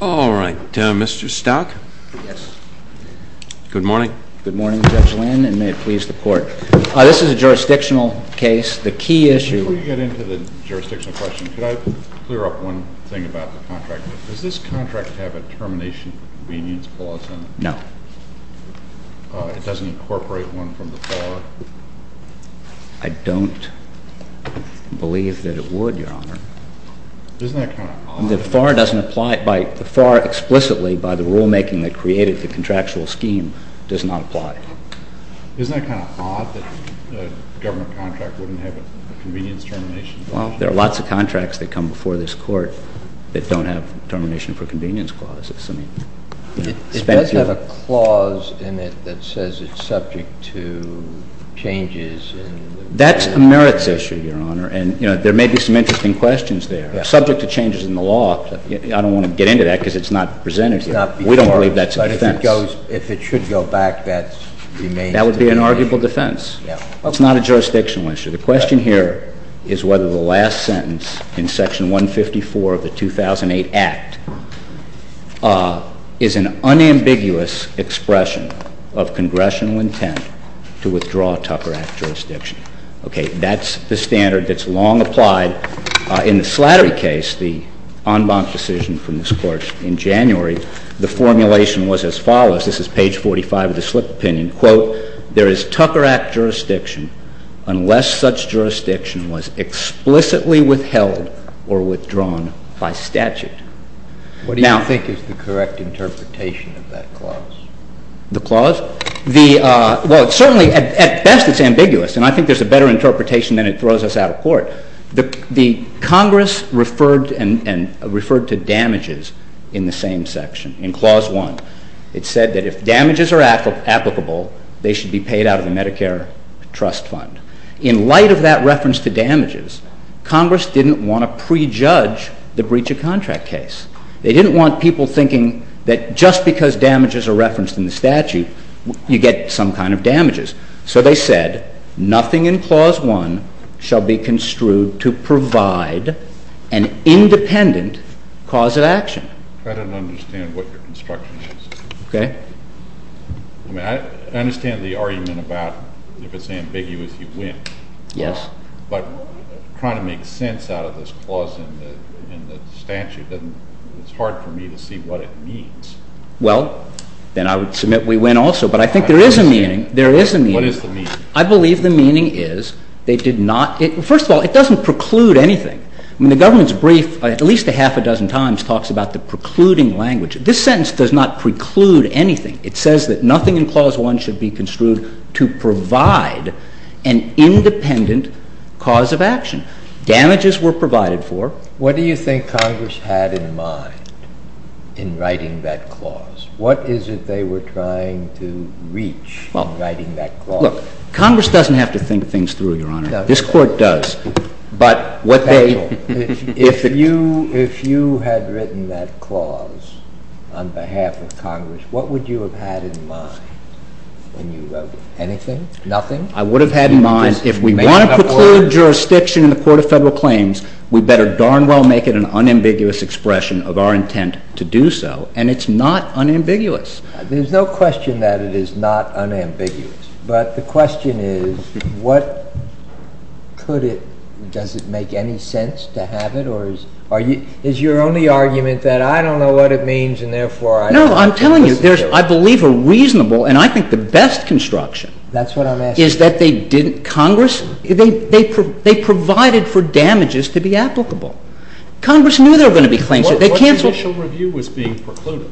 All right. Mr. Stock? Yes. Good morning. Good morning, Judge Lynn, and may it please the Court. This is a jurisdictional case. The key issue— Before we get into the jurisdictional question, could I clear up one thing about the contract? Does this contract have a termination convenience clause in it? No. It doesn't incorporate one from the FAR? I don't believe that it would, Your Honor. Isn't that kind of odd? The FAR explicitly, by the rulemaking that created the contractual scheme, does not apply. Isn't that kind of odd that a government contract wouldn't have a convenience termination clause? There are lots of contracts that come before this Court that don't have termination for convenience clauses. It does have a clause in it that says it's subject to changes in— That's a merits issue, Your Honor, and there may be some interesting questions there. Subject to changes in the law, I don't want to get into that because it's not presented here. We don't believe that's a defense. But if it should go back, that remains to be seen. That would be an arguable defense. It's not a jurisdictional issue. The question here is whether the last sentence in Section 154 of the 2008 Act is an unambiguous expression of congressional intent to withdraw Tucker Act jurisdiction. Okay, that's the standard that's long applied. In the Slattery case, the en banc decision from this Court in January, the formulation was as follows. This is page 45 of the slip opinion. Quote, there is Tucker Act jurisdiction unless such jurisdiction was explicitly withheld or withdrawn by statute. What do you think is the correct interpretation of that clause? The clause? Well, certainly at best it's ambiguous, and I think there's a better interpretation than it throws us out of court. Congress referred to damages in the same section, in Clause 1. It said that if damages are applicable, they should be paid out of the Medicare trust fund. In light of that reference to damages, Congress didn't want to prejudge the breach of contract case. They didn't want people thinking that just because damages are referenced in the statute, you get some kind of damages. So they said nothing in Clause 1 shall be construed to provide an independent cause of action. I don't understand what your construction is. Okay. I mean, I understand the argument about if it's ambiguous, you win. Yes. But trying to make sense out of this clause in the statute, it's hard for me to see what it means. Well, then I would submit we win also. But I think there is a meaning. There is a meaning. What is the meaning? I believe the meaning is they did not – first of all, it doesn't preclude anything. I mean, the government's brief at least a half a dozen times talks about the precluding language. This sentence does not preclude anything. It says that nothing in Clause 1 should be construed to provide an independent cause of action. Damages were provided for. What do you think Congress had in mind in writing that clause? What is it they were trying to reach in writing that clause? Look, Congress doesn't have to think things through, Your Honor. It doesn't. This Court does. If you had written that clause on behalf of Congress, what would you have had in mind when you wrote it? Anything? Nothing? I would have had in mind if we want to preclude jurisdiction in the Court of Federal Claims, we better darn well make it an unambiguous expression of our intent to do so. And it's not unambiguous. There's no question that it is not unambiguous. But the question is what could it – does it make any sense to have it? Or is your only argument that I don't know what it means and therefore I – No, I'm telling you. There's, I believe, a reasonable and I think the best construction – That's what I'm asking. – is that they didn't – Congress – they provided for damages to be applicable. Congress knew there were going to be claims – What initial review was being precluded?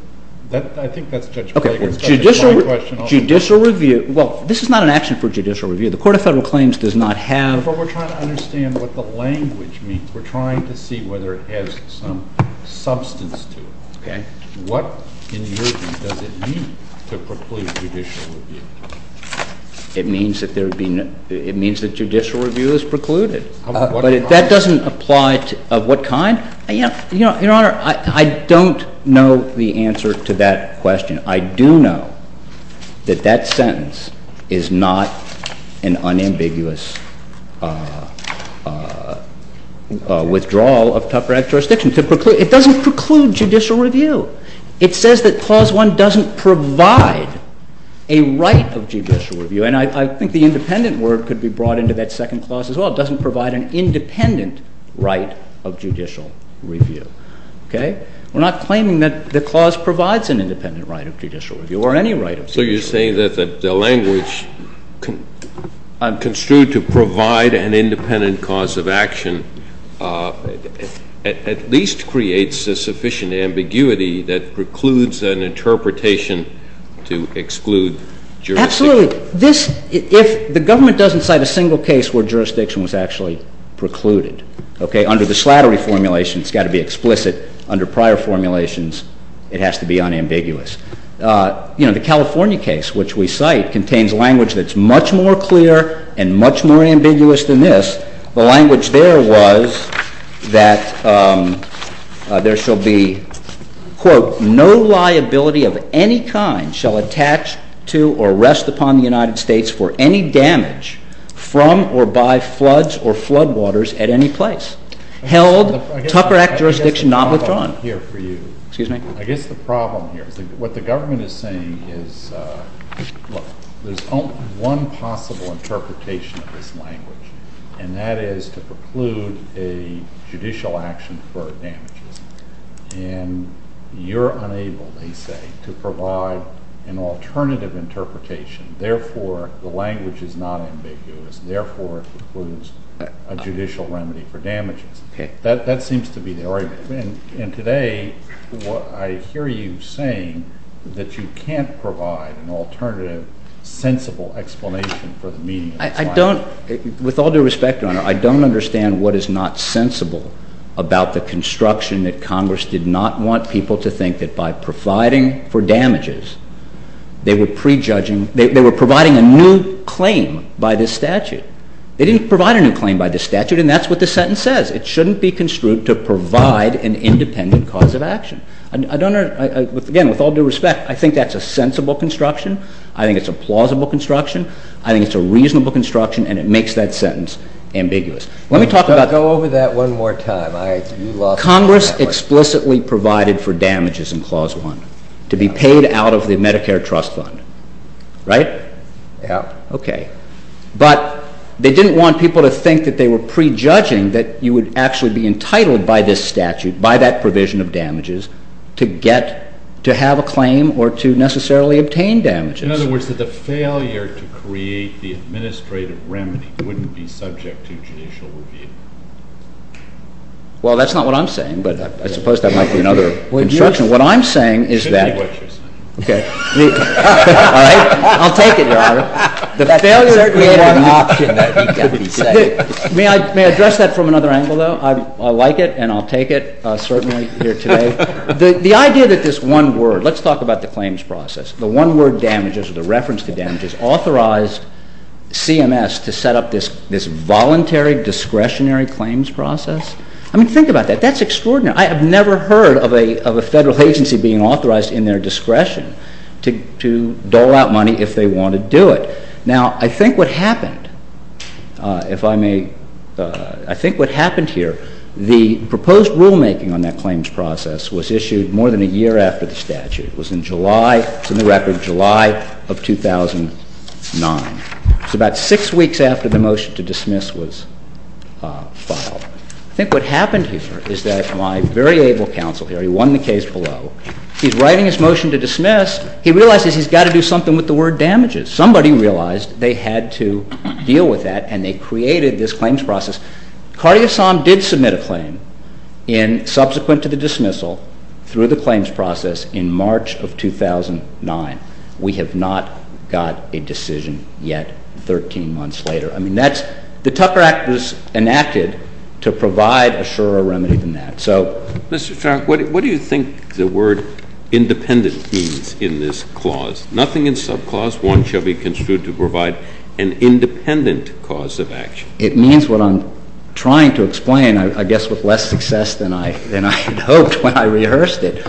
I think that's Judge Klager's question. Okay. Judicial review. Well, this is not an action for judicial review. The Court of Federal Claims does not have – But we're trying to understand what the language means. We're trying to see whether it has some substance to it. Okay. What, in your view, does it mean to preclude judicial review? It means that there would be – it means that judicial review is precluded. But that doesn't apply to – of what kind? Your Honor, I don't know the answer to that question. I do know that that sentence is not an unambiguous withdrawal of tougher jurisdictions. It doesn't preclude judicial review. It says that Clause 1 doesn't provide a right of judicial review, and I think the independent word could be brought into that second clause as well. It doesn't provide an independent right of judicial review. Okay? We're not claiming that the clause provides an independent right of judicial review or any right of judicial review. So you're saying that the language construed to provide an independent cause of action at least creates a sufficient ambiguity that precludes an interpretation to exclude jurisdiction. Absolutely. This – if the government doesn't cite a single case where jurisdiction was actually precluded, okay, under the Slattery formulation, it's got to be explicit. Under prior formulations, it has to be unambiguous. You know, the California case, which we cite, contains language that's much more clear and much more ambiguous than this. The language there was that there shall be, quote, no liability of any kind shall attach to or rest upon the United States for any damage from or by floods or floodwaters at any place. Held, Tucker Act jurisdiction not withdrawn. I guess the problem here for you – Excuse me? I guess the problem here is that what the government is saying is, look, there's only one possible interpretation of this language, and that is to preclude a judicial action for damages. And you're unable, they say, to provide an alternative interpretation. Therefore, the language is not ambiguous. Therefore, it precludes a judicial remedy for damages. Okay. That seems to be the argument. And today, I hear you saying that you can't provide an alternative, sensible explanation for the meaning of this language. I don't – with all due respect, Your Honor, I don't understand what is not sensible about the construction that Congress did not want people to think that by providing for damages, they were prejudging – they were providing a new claim by this statute. They didn't provide a new claim by this statute, and that's what this sentence says. It shouldn't be construed to provide an independent cause of action. I don't – again, with all due respect, I think that's a sensible construction. I think it's a plausible construction. I think it's a reasonable construction, and it makes that sentence ambiguous. Let me talk about – Go over that one more time. Congress explicitly provided for damages in Clause 1 to be paid out of the Medicare trust fund, right? Yeah. Okay. But they didn't want people to think that they were prejudging that you would actually be entitled by this statute, by that provision of damages, to get – to have a claim or to necessarily obtain damages. In other words, that the failure to create the administrative remedy wouldn't be subject to judicial review. Well, that's not what I'm saying, but I suppose that might be another construction. What I'm saying is that – It should be what you're saying. Okay. All right. I'll take it, Your Honor. The failure – That's certainly not an option that you've got to be saying. May I address that from another angle, though? I like it, and I'll take it, certainly, here today. The idea that this one word – let's talk about the claims process. The one word damages or the reference to damages authorized CMS to set up this voluntary discretionary claims process? I mean, think about that. That's extraordinary. I have never heard of a federal agency being authorized in their discretion to dole out money if they want to do it. Now, I think what happened, if I may – I think what happened here, the proposed rulemaking on that claims process was issued more than a year after the statute. It was in July – it's in the record – July of 2009. It was about six weeks after the motion to dismiss was filed. I think what happened here is that my very able counsel here – he won the case below – he's writing his motion to dismiss. He realizes he's got to do something with the word damages. Somebody realized they had to deal with that, and they created this claims process. Cartier-Som did submit a claim in – subsequent to the dismissal through the claims process in March of 2009. We have not got a decision yet 13 months later. I mean, that's – the Tucker Act was enacted to provide a surer remedy than that. So – Mr. Farr, what do you think the word independent means in this clause? Nothing in subclause 1 shall be construed to provide an independent cause of action. It means what I'm trying to explain, I guess with less success than I hoped when I rehearsed it.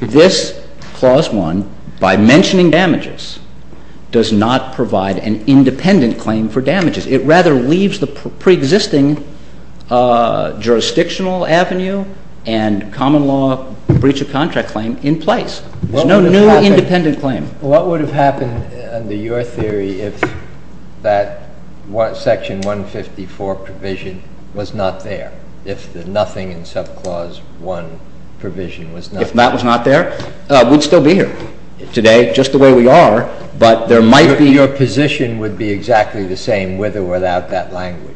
This clause 1, by mentioning damages, does not provide an independent claim for damages. It rather leaves the preexisting jurisdictional avenue and common law breach of contract claim in place. There's no new independent claim. What would have happened under your theory if that section 154 provision was not there, if the nothing in subclause 1 provision was not there? If that was not there, we'd still be here today, just the way we are. But there might be – Your position would be exactly the same with or without that language.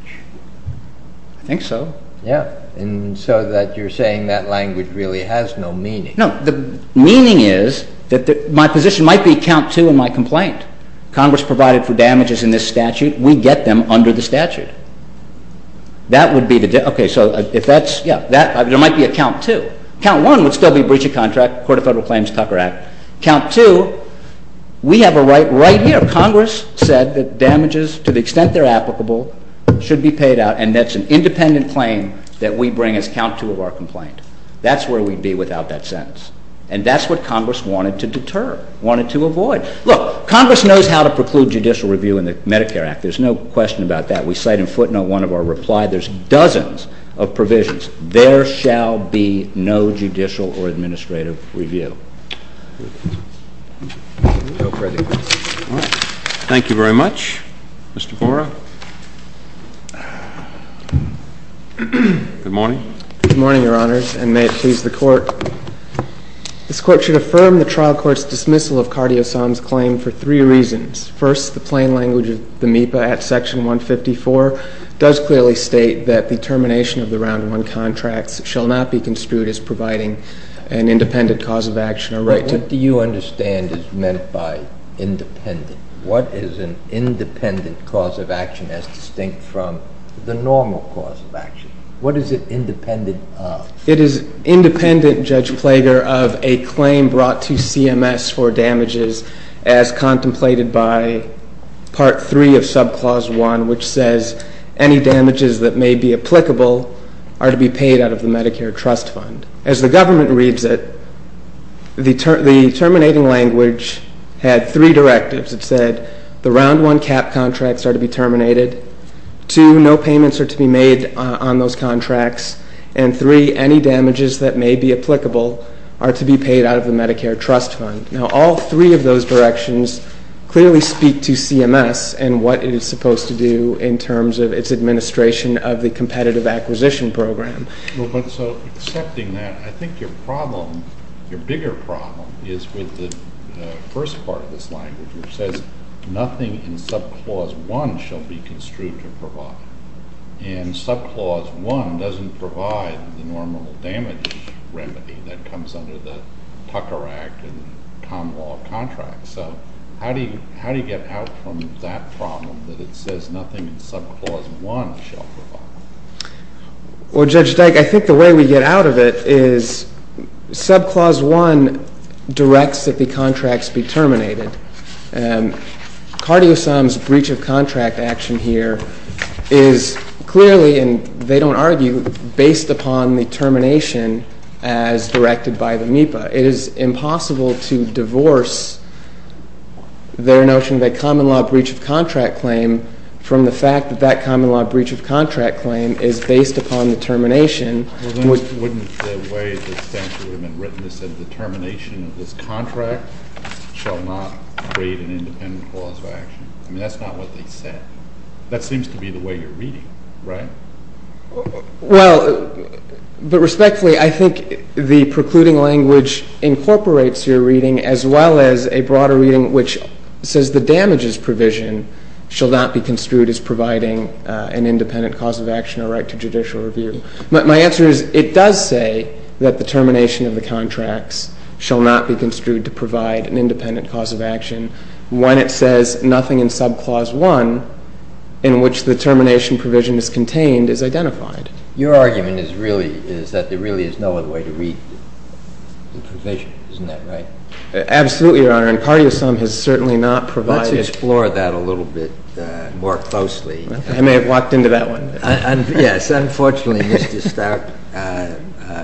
I think so. Yeah. And so that you're saying that language really has no meaning. No. The meaning is that my position might be count 2 in my complaint. Congress provided for damages in this statute. We get them under the statute. That would be the – okay. So if that's – yeah. There might be a count 2. Count 1 would still be breach of contract, Court of Federal Claims, Tucker Act. Count 2, we have a right right here. Congress said that damages, to the extent they're applicable, should be paid out. And that's an independent claim that we bring as count 2 of our complaint. That's where we'd be without that sentence. And that's what Congress wanted to deter, wanted to avoid. Look, Congress knows how to preclude judicial review in the Medicare Act. There's no question about that. We cite in footnote 1 of our reply. There's dozens of provisions. There shall be no judicial or administrative review. Go for it. All right. Thank you very much. Mr. Borah. Good morning. Good morning, Your Honors, and may it please the Court. This Court should affirm the trial court's dismissal of Cardio San's claim for three reasons. First, the plain language of the MEPA at Section 154 does clearly state that the termination of the Round 1 contracts shall not be construed as providing an independent cause of action or right to. But what do you understand is meant by independent? What is an independent cause of action as distinct from the normal cause of action? What is it independent of? It is independent, Judge Plager, of a claim brought to CMS for damages as contemplated by Part 3 of Subclause 1, which says any damages that may be applicable are to be paid out of the Medicare Trust Fund. As the government reads it, the terminating language had three directives. It said the Round 1 cap contracts are to be terminated, two, no payments are to be made on those contracts, and three, any damages that may be applicable are to be paid out of the Medicare Trust Fund. Now, all three of those directions clearly speak to CMS and what it is supposed to do in terms of its administration of the Competitive Acquisition Program. Well, but so accepting that, I think your problem, your bigger problem, is with the first part of this language, which says nothing in Subclause 1 shall be construed to provide. And Subclause 1 doesn't provide the normal damage remedy that comes under the Tucker Act and common law contract. So how do you get out from that problem that it says nothing in Subclause 1 shall provide? Well, Judge Dyke, I think the way we get out of it is Subclause 1 directs that the contracts be terminated. And Cardio Sum's breach of contract action here is clearly, and they don't argue, based upon the termination as directed by the MEPA. It is impossible to divorce their notion of a common law breach of contract claim from the fact that that common law breach of contract claim is based upon the termination. Well, then wouldn't the way the statute would have been written that said the termination of this contract shall not create an independent cause of action? I mean, that's not what they said. That seems to be the way you're reading it, right? Well, but respectfully, I think the precluding language incorporates your reading as well as a broader reading which says the damages provision shall not be construed as providing an independent cause of action or right to judicial review. My answer is it does say that the termination of the contracts shall not be construed to provide an independent cause of action when it says nothing in Subclause 1 in which the termination provision is contained is identified. Your argument is really that there really is no other way to read the provision. Isn't that right? Absolutely, Your Honor. And Cardio Sum has certainly not provided. Let's explore that a little bit more closely. I may have walked into that one. Yes, unfortunately, Mr. Stark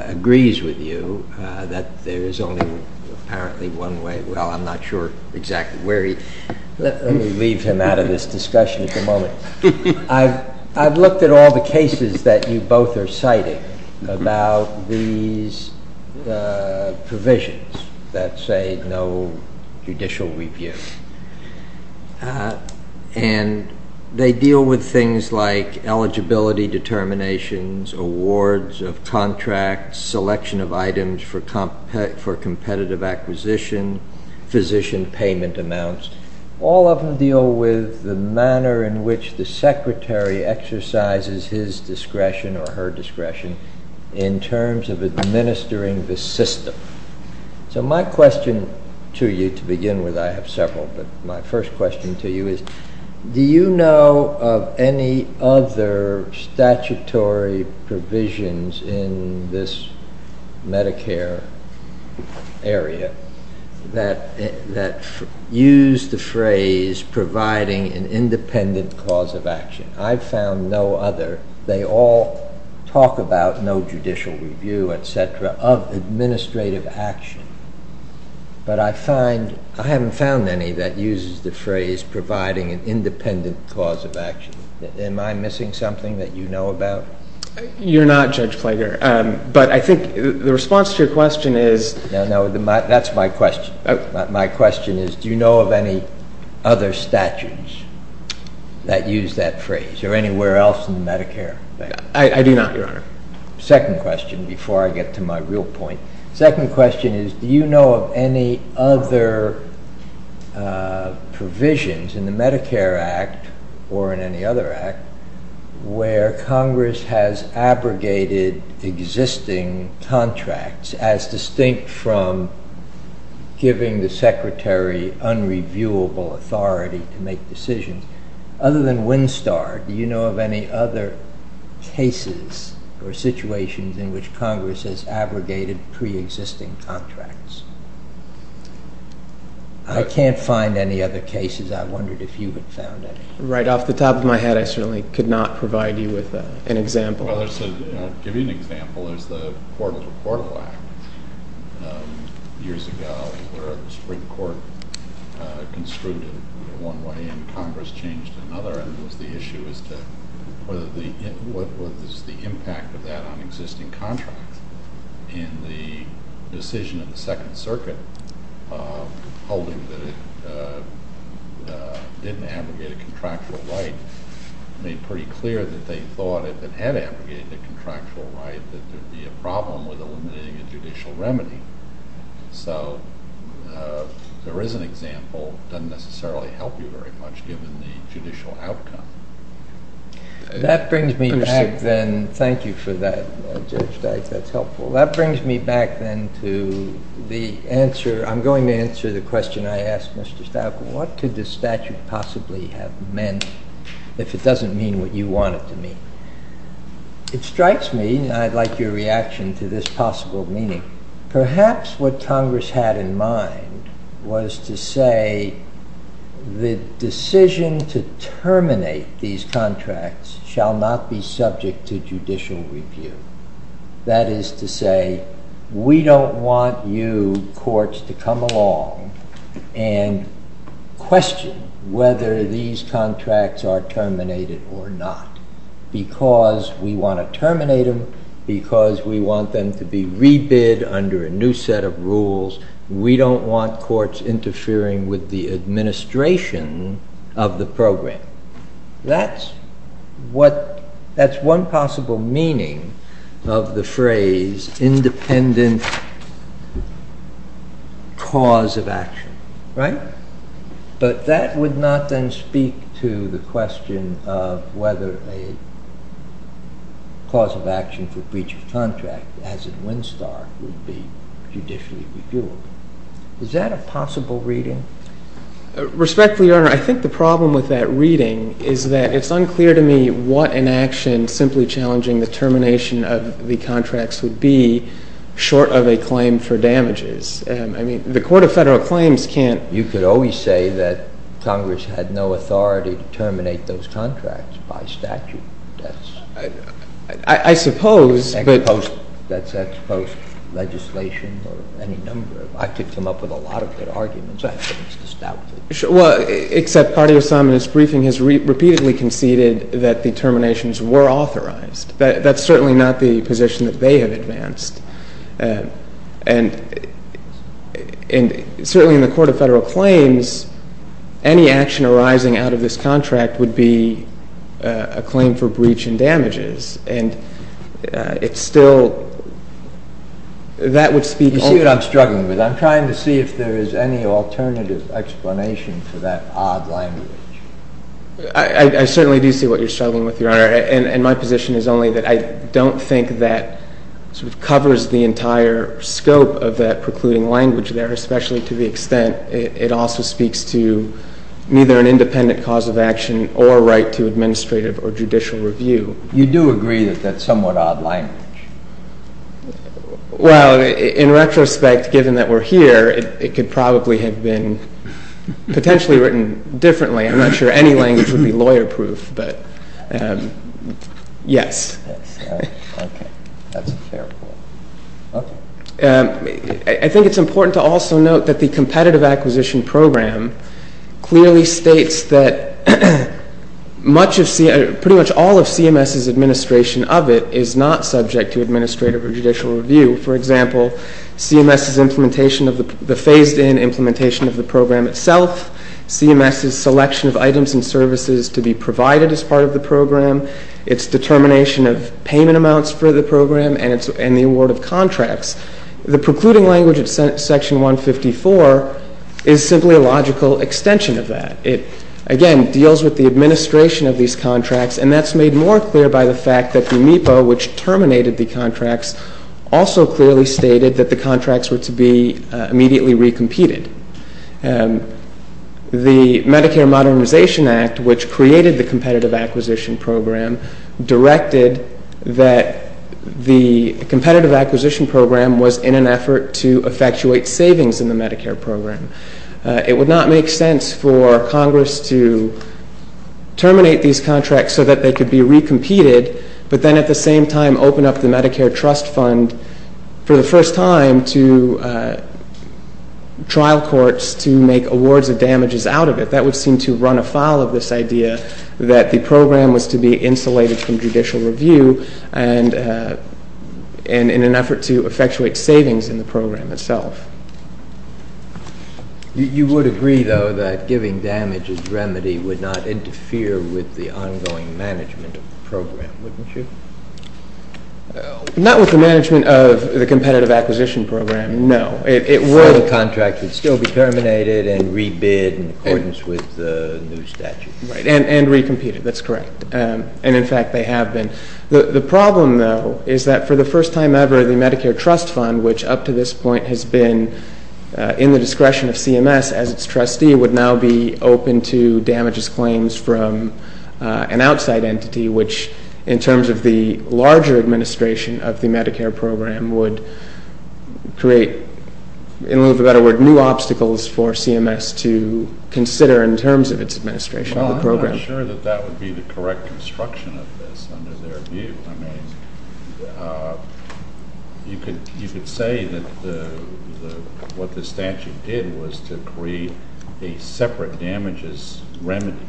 agrees with you that there is only apparently one way. Well, I'm not sure exactly where he—let me leave him out of this discussion at the moment. I've looked at all the cases that you both are citing about these provisions that say no judicial review. And they deal with things like eligibility determinations, awards of contracts, selection of items for competitive acquisition, physician payment amounts. All of them deal with the manner in which the secretary exercises his discretion or her discretion in terms of administering the system. So my question to you to begin with—I have several, but my first question to you is do you know of any other statutory provisions in this Medicare area that use the phrase providing an independent cause of action? I've found no other. They all talk about no judicial review, et cetera, of administrative action. But I find—I haven't found any that uses the phrase providing an independent cause of action. Am I missing something that you know about? You're not, Judge Plager. But I think the response to your question is— No, no, that's my question. My question is do you know of any other statutes that use that phrase or anywhere else in Medicare? I do not, Your Honor. Second question, before I get to my real point. Second question is do you know of any other provisions in the Medicare Act or in any other act where Congress has abrogated existing contracts as distinct from giving the Secretary unreviewable authority to make decisions? Other than Winstar, do you know of any other cases or situations in which Congress has abrogated preexisting contracts? I can't find any other cases. I wondered if you had found any. Right off the top of my head, I certainly could not provide you with an example. Well, I'll give you an example. There's the Portable to Portable Act years ago where the Supreme Court construed it one way and Congress changed to another. And it was the issue as to what was the impact of that on existing contracts and the decision of the Second Circuit holding that it didn't abrogate a contractual right made pretty clear that they thought if it had abrogated a contractual right that there would be a problem with eliminating a judicial remedy. So there is an example. It doesn't necessarily help you very much given the judicial outcome. That brings me back then. Thank you for that, Judge Dyke. That's helpful. That brings me back then to the answer. I'm going to answer the question I asked Mr. Stauffer. What could this statute possibly have meant if it doesn't mean what you want it to mean? It strikes me, and I'd like your reaction to this possible meaning. Perhaps what Congress had in mind was to say the decision to terminate these contracts shall not be subject to judicial review. That is to say, we don't want you courts to come along and question whether these contracts are terminated or not because we want to terminate them, because we want them to be rebid under a new set of rules. We don't want courts interfering with the administration of the program. That's one possible meaning of the phrase independent cause of action. But that would not then speak to the question of whether a cause of action for breach of contract, as in Winstar, would be judicially reviewed. Is that a possible reading? Respectfully, Your Honor, I think the problem with that reading is that it's unclear to me what an action simply challenging the termination of the contracts would be short of a claim for damages. I mean, the Court of Federal Claims can't… You could always say that Congress had no authority to terminate those contracts by statute. That's… I suppose, but… That's ex post legislation or any number. I could come up with a lot of good arguments. I think it's just doubtful. Well, except Cartier-Simon's briefing has repeatedly conceded that the terminations were authorized. That's certainly not the position that they have advanced. And certainly in the Court of Federal Claims, any action arising out of this contract would be a claim for breach and damages. And it's still… You see what I'm struggling with? I'm trying to see if there is any alternative explanation for that odd language. I'm not sure. And my position is only that I don't think that sort of covers the entire scope of that precluding language there, especially to the extent it also speaks to neither an independent cause of action or right to administrative or judicial review. You do agree that that's somewhat odd language? Well, in retrospect, given that we're here, it could probably have been potentially written differently. I'm not sure any language would be lawyer-proof, but yes. Okay. That's a fair point. Okay. I think it's important to also note that the Competitive Acquisition Program clearly states that pretty much all of CMS's administration of it is not subject to administrative or judicial review. For example, CMS's implementation of the phased-in implementation of the program itself, CMS's selection of items and services to be provided as part of the program, its determination of payment amounts for the program, and the award of contracts. The precluding language of Section 154 is simply a logical extension of that. It, again, deals with the administration of these contracts, and that's made more clear by the fact that the MEPO, which terminated the contracts, also clearly stated that the contracts were to be immediately recompeted. The Medicare Modernization Act, which created the Competitive Acquisition Program, directed that the Competitive Acquisition Program was in an effort to effectuate savings in the Medicare program. It would not make sense for Congress to terminate these contracts so that they could be recompeted, but then at the same time open up the Medicare Trust Fund for the first time to trial courts to make awards of damages out of it. That would seem to run afoul of this idea that the program was to be insulated from judicial review and in an effort to effectuate savings in the program itself. You would agree, though, that giving damages remedy would not interfere with the ongoing management of the program, wouldn't you? Not with the management of the Competitive Acquisition Program, no. The contract would still be terminated and rebid in accordance with the new statute. And recompeted, that's correct. And, in fact, they have been. The problem, though, is that for the first time ever, the Medicare Trust Fund, which up to this point has been in the discretion of CMS as its trustee, would now be open to damages claims from an outside entity, which in terms of the larger administration of the Medicare program would create, in a little bit of a better word, new obstacles for CMS to consider in terms of its administration of the program. I'm not sure that that would be the correct construction of this under their view. I mean, you could say that what the statute did was to create a separate damages remedy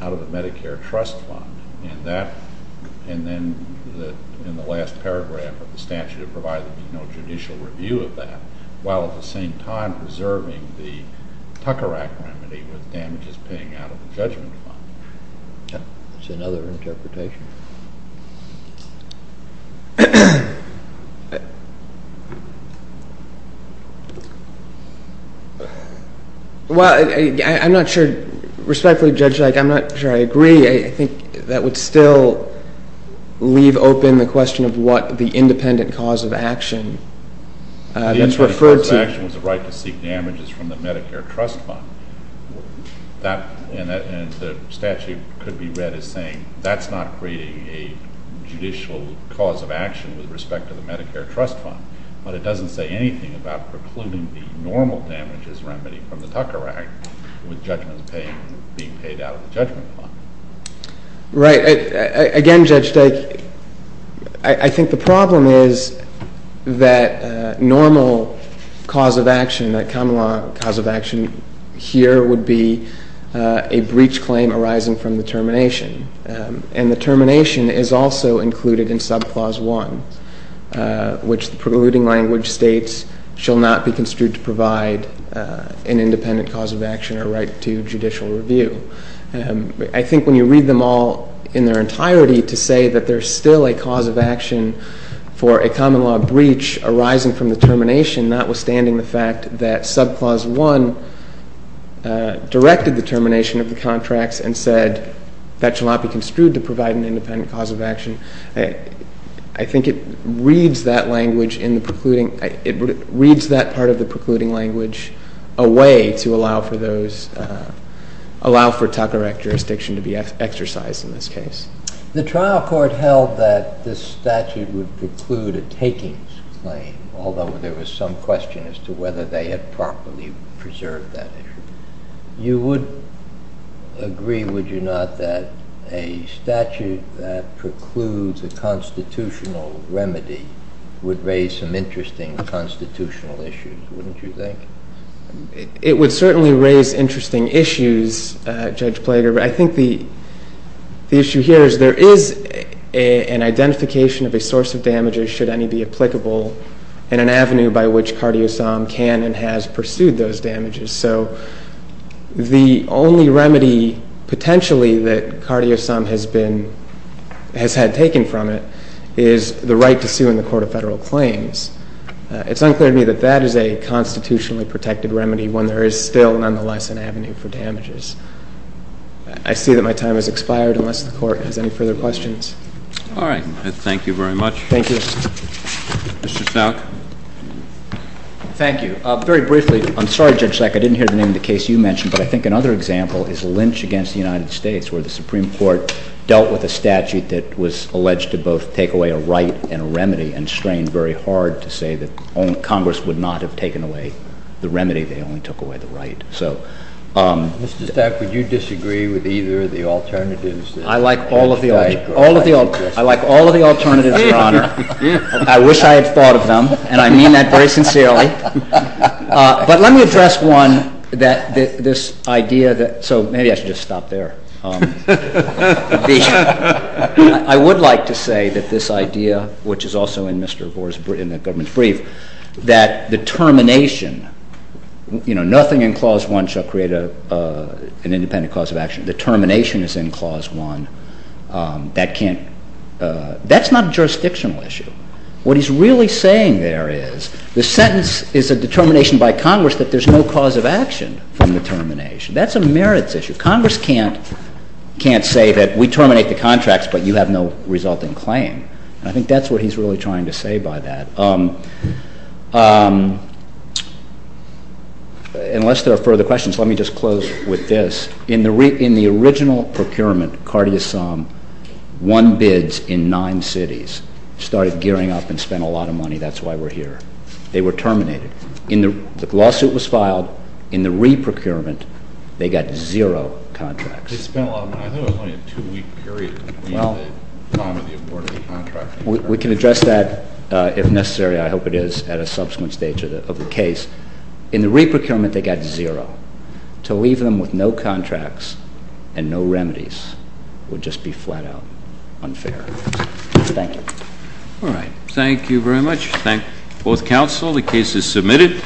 out of the Medicare Trust Fund, and then in the last paragraph of the statute it provided a judicial review of that, while at the same time preserving the Tucker Act remedy with damages paying out of the judgment fund. That's another interpretation. Well, I'm not sure. Respectfully judged, I'm not sure I agree. I think that would still leave open the question of what the independent cause of action that's referred to. The independent cause of action was the right to seek damages from the Medicare Trust Fund, and the statute could be read as saying that's not creating a judicial cause of action with respect to the Medicare Trust Fund, but it doesn't say anything about precluding the normal damages remedy from the Tucker Act with judgments being paid out of the judgment fund. Right. Again, Judge Dyke, I think the problem is that normal cause of action, that common law cause of action here would be a breach claim arising from the termination, and the termination is also included in subclause 1, which the precluding language states shall not be construed to provide an independent cause of action or right to judicial review. I think when you read them all in their entirety to say that there's still a cause of action for a common law breach arising from the termination, notwithstanding the fact that subclause 1 directed the termination of the contracts and said that shall not be construed to provide an independent cause of action, it reads that part of the precluding language away to allow for those, allow for Tucker Act jurisdiction to be exercised in this case. The trial court held that this statute would preclude a takings claim, although there was some question as to whether they had properly preserved that issue. You would agree, would you not, that a statute that precludes a constitutional remedy would raise some interesting constitutional issues, wouldn't you think? It would certainly raise interesting issues, Judge Plager. I think the issue here is there is an identification of a source of damages, should any be applicable, and an avenue by which CardioSOM can and has pursued those damages. So the only remedy potentially that CardioSOM has had taken from it is the right to sue in the court of federal claims. It's unclear to me that that is a constitutionally protected remedy when there is still, nonetheless, an avenue for damages. I see that my time has expired unless the Court has any further questions. All right. Thank you very much. Thank you. Mr. Stout. Thank you. Very briefly, I'm sorry, Judge Stack, I didn't hear the name of the case you mentioned, but I think another example is Lynch v. United States, where the Supreme Court dealt with a statute that was alleged to both take away a right and a remedy and strained very hard to say that Congress would not have taken away the remedy, they only took away the right. Mr. Stack, would you disagree with either of the alternatives? I like all of the alternatives, Your Honor. I wish I had thought of them, and I mean that very sincerely. But let me address one, this idea that, so maybe I should just stop there. I would like to say that this idea, which is also in Mr. Gore's government brief, that the termination, you know, nothing in Clause 1 shall create an independent cause of action. The termination is in Clause 1. That's not a jurisdictional issue. What he's really saying there is the sentence is a determination by Congress that there's no cause of action from the termination. That's a merits issue. Congress can't say that we terminate the contracts but you have no resulting claim. I think that's what he's really trying to say by that. Unless there are further questions, let me just close with this. In the original procurement, Carty Assam won bids in nine cities, started gearing up, and spent a lot of money. That's why we're here. They were terminated. The lawsuit was filed. In the re-procurement, they got zero contracts. They spent a lot of money. I thought it was only a two-week period. We can address that if necessary. I hope it is at a subsequent stage of the case. In the re-procurement, they got zero. To leave them with no contracts and no remedies would just be flat out unfair. Thank you. All right. Thank you very much. Thank both counsel. The case is submitted.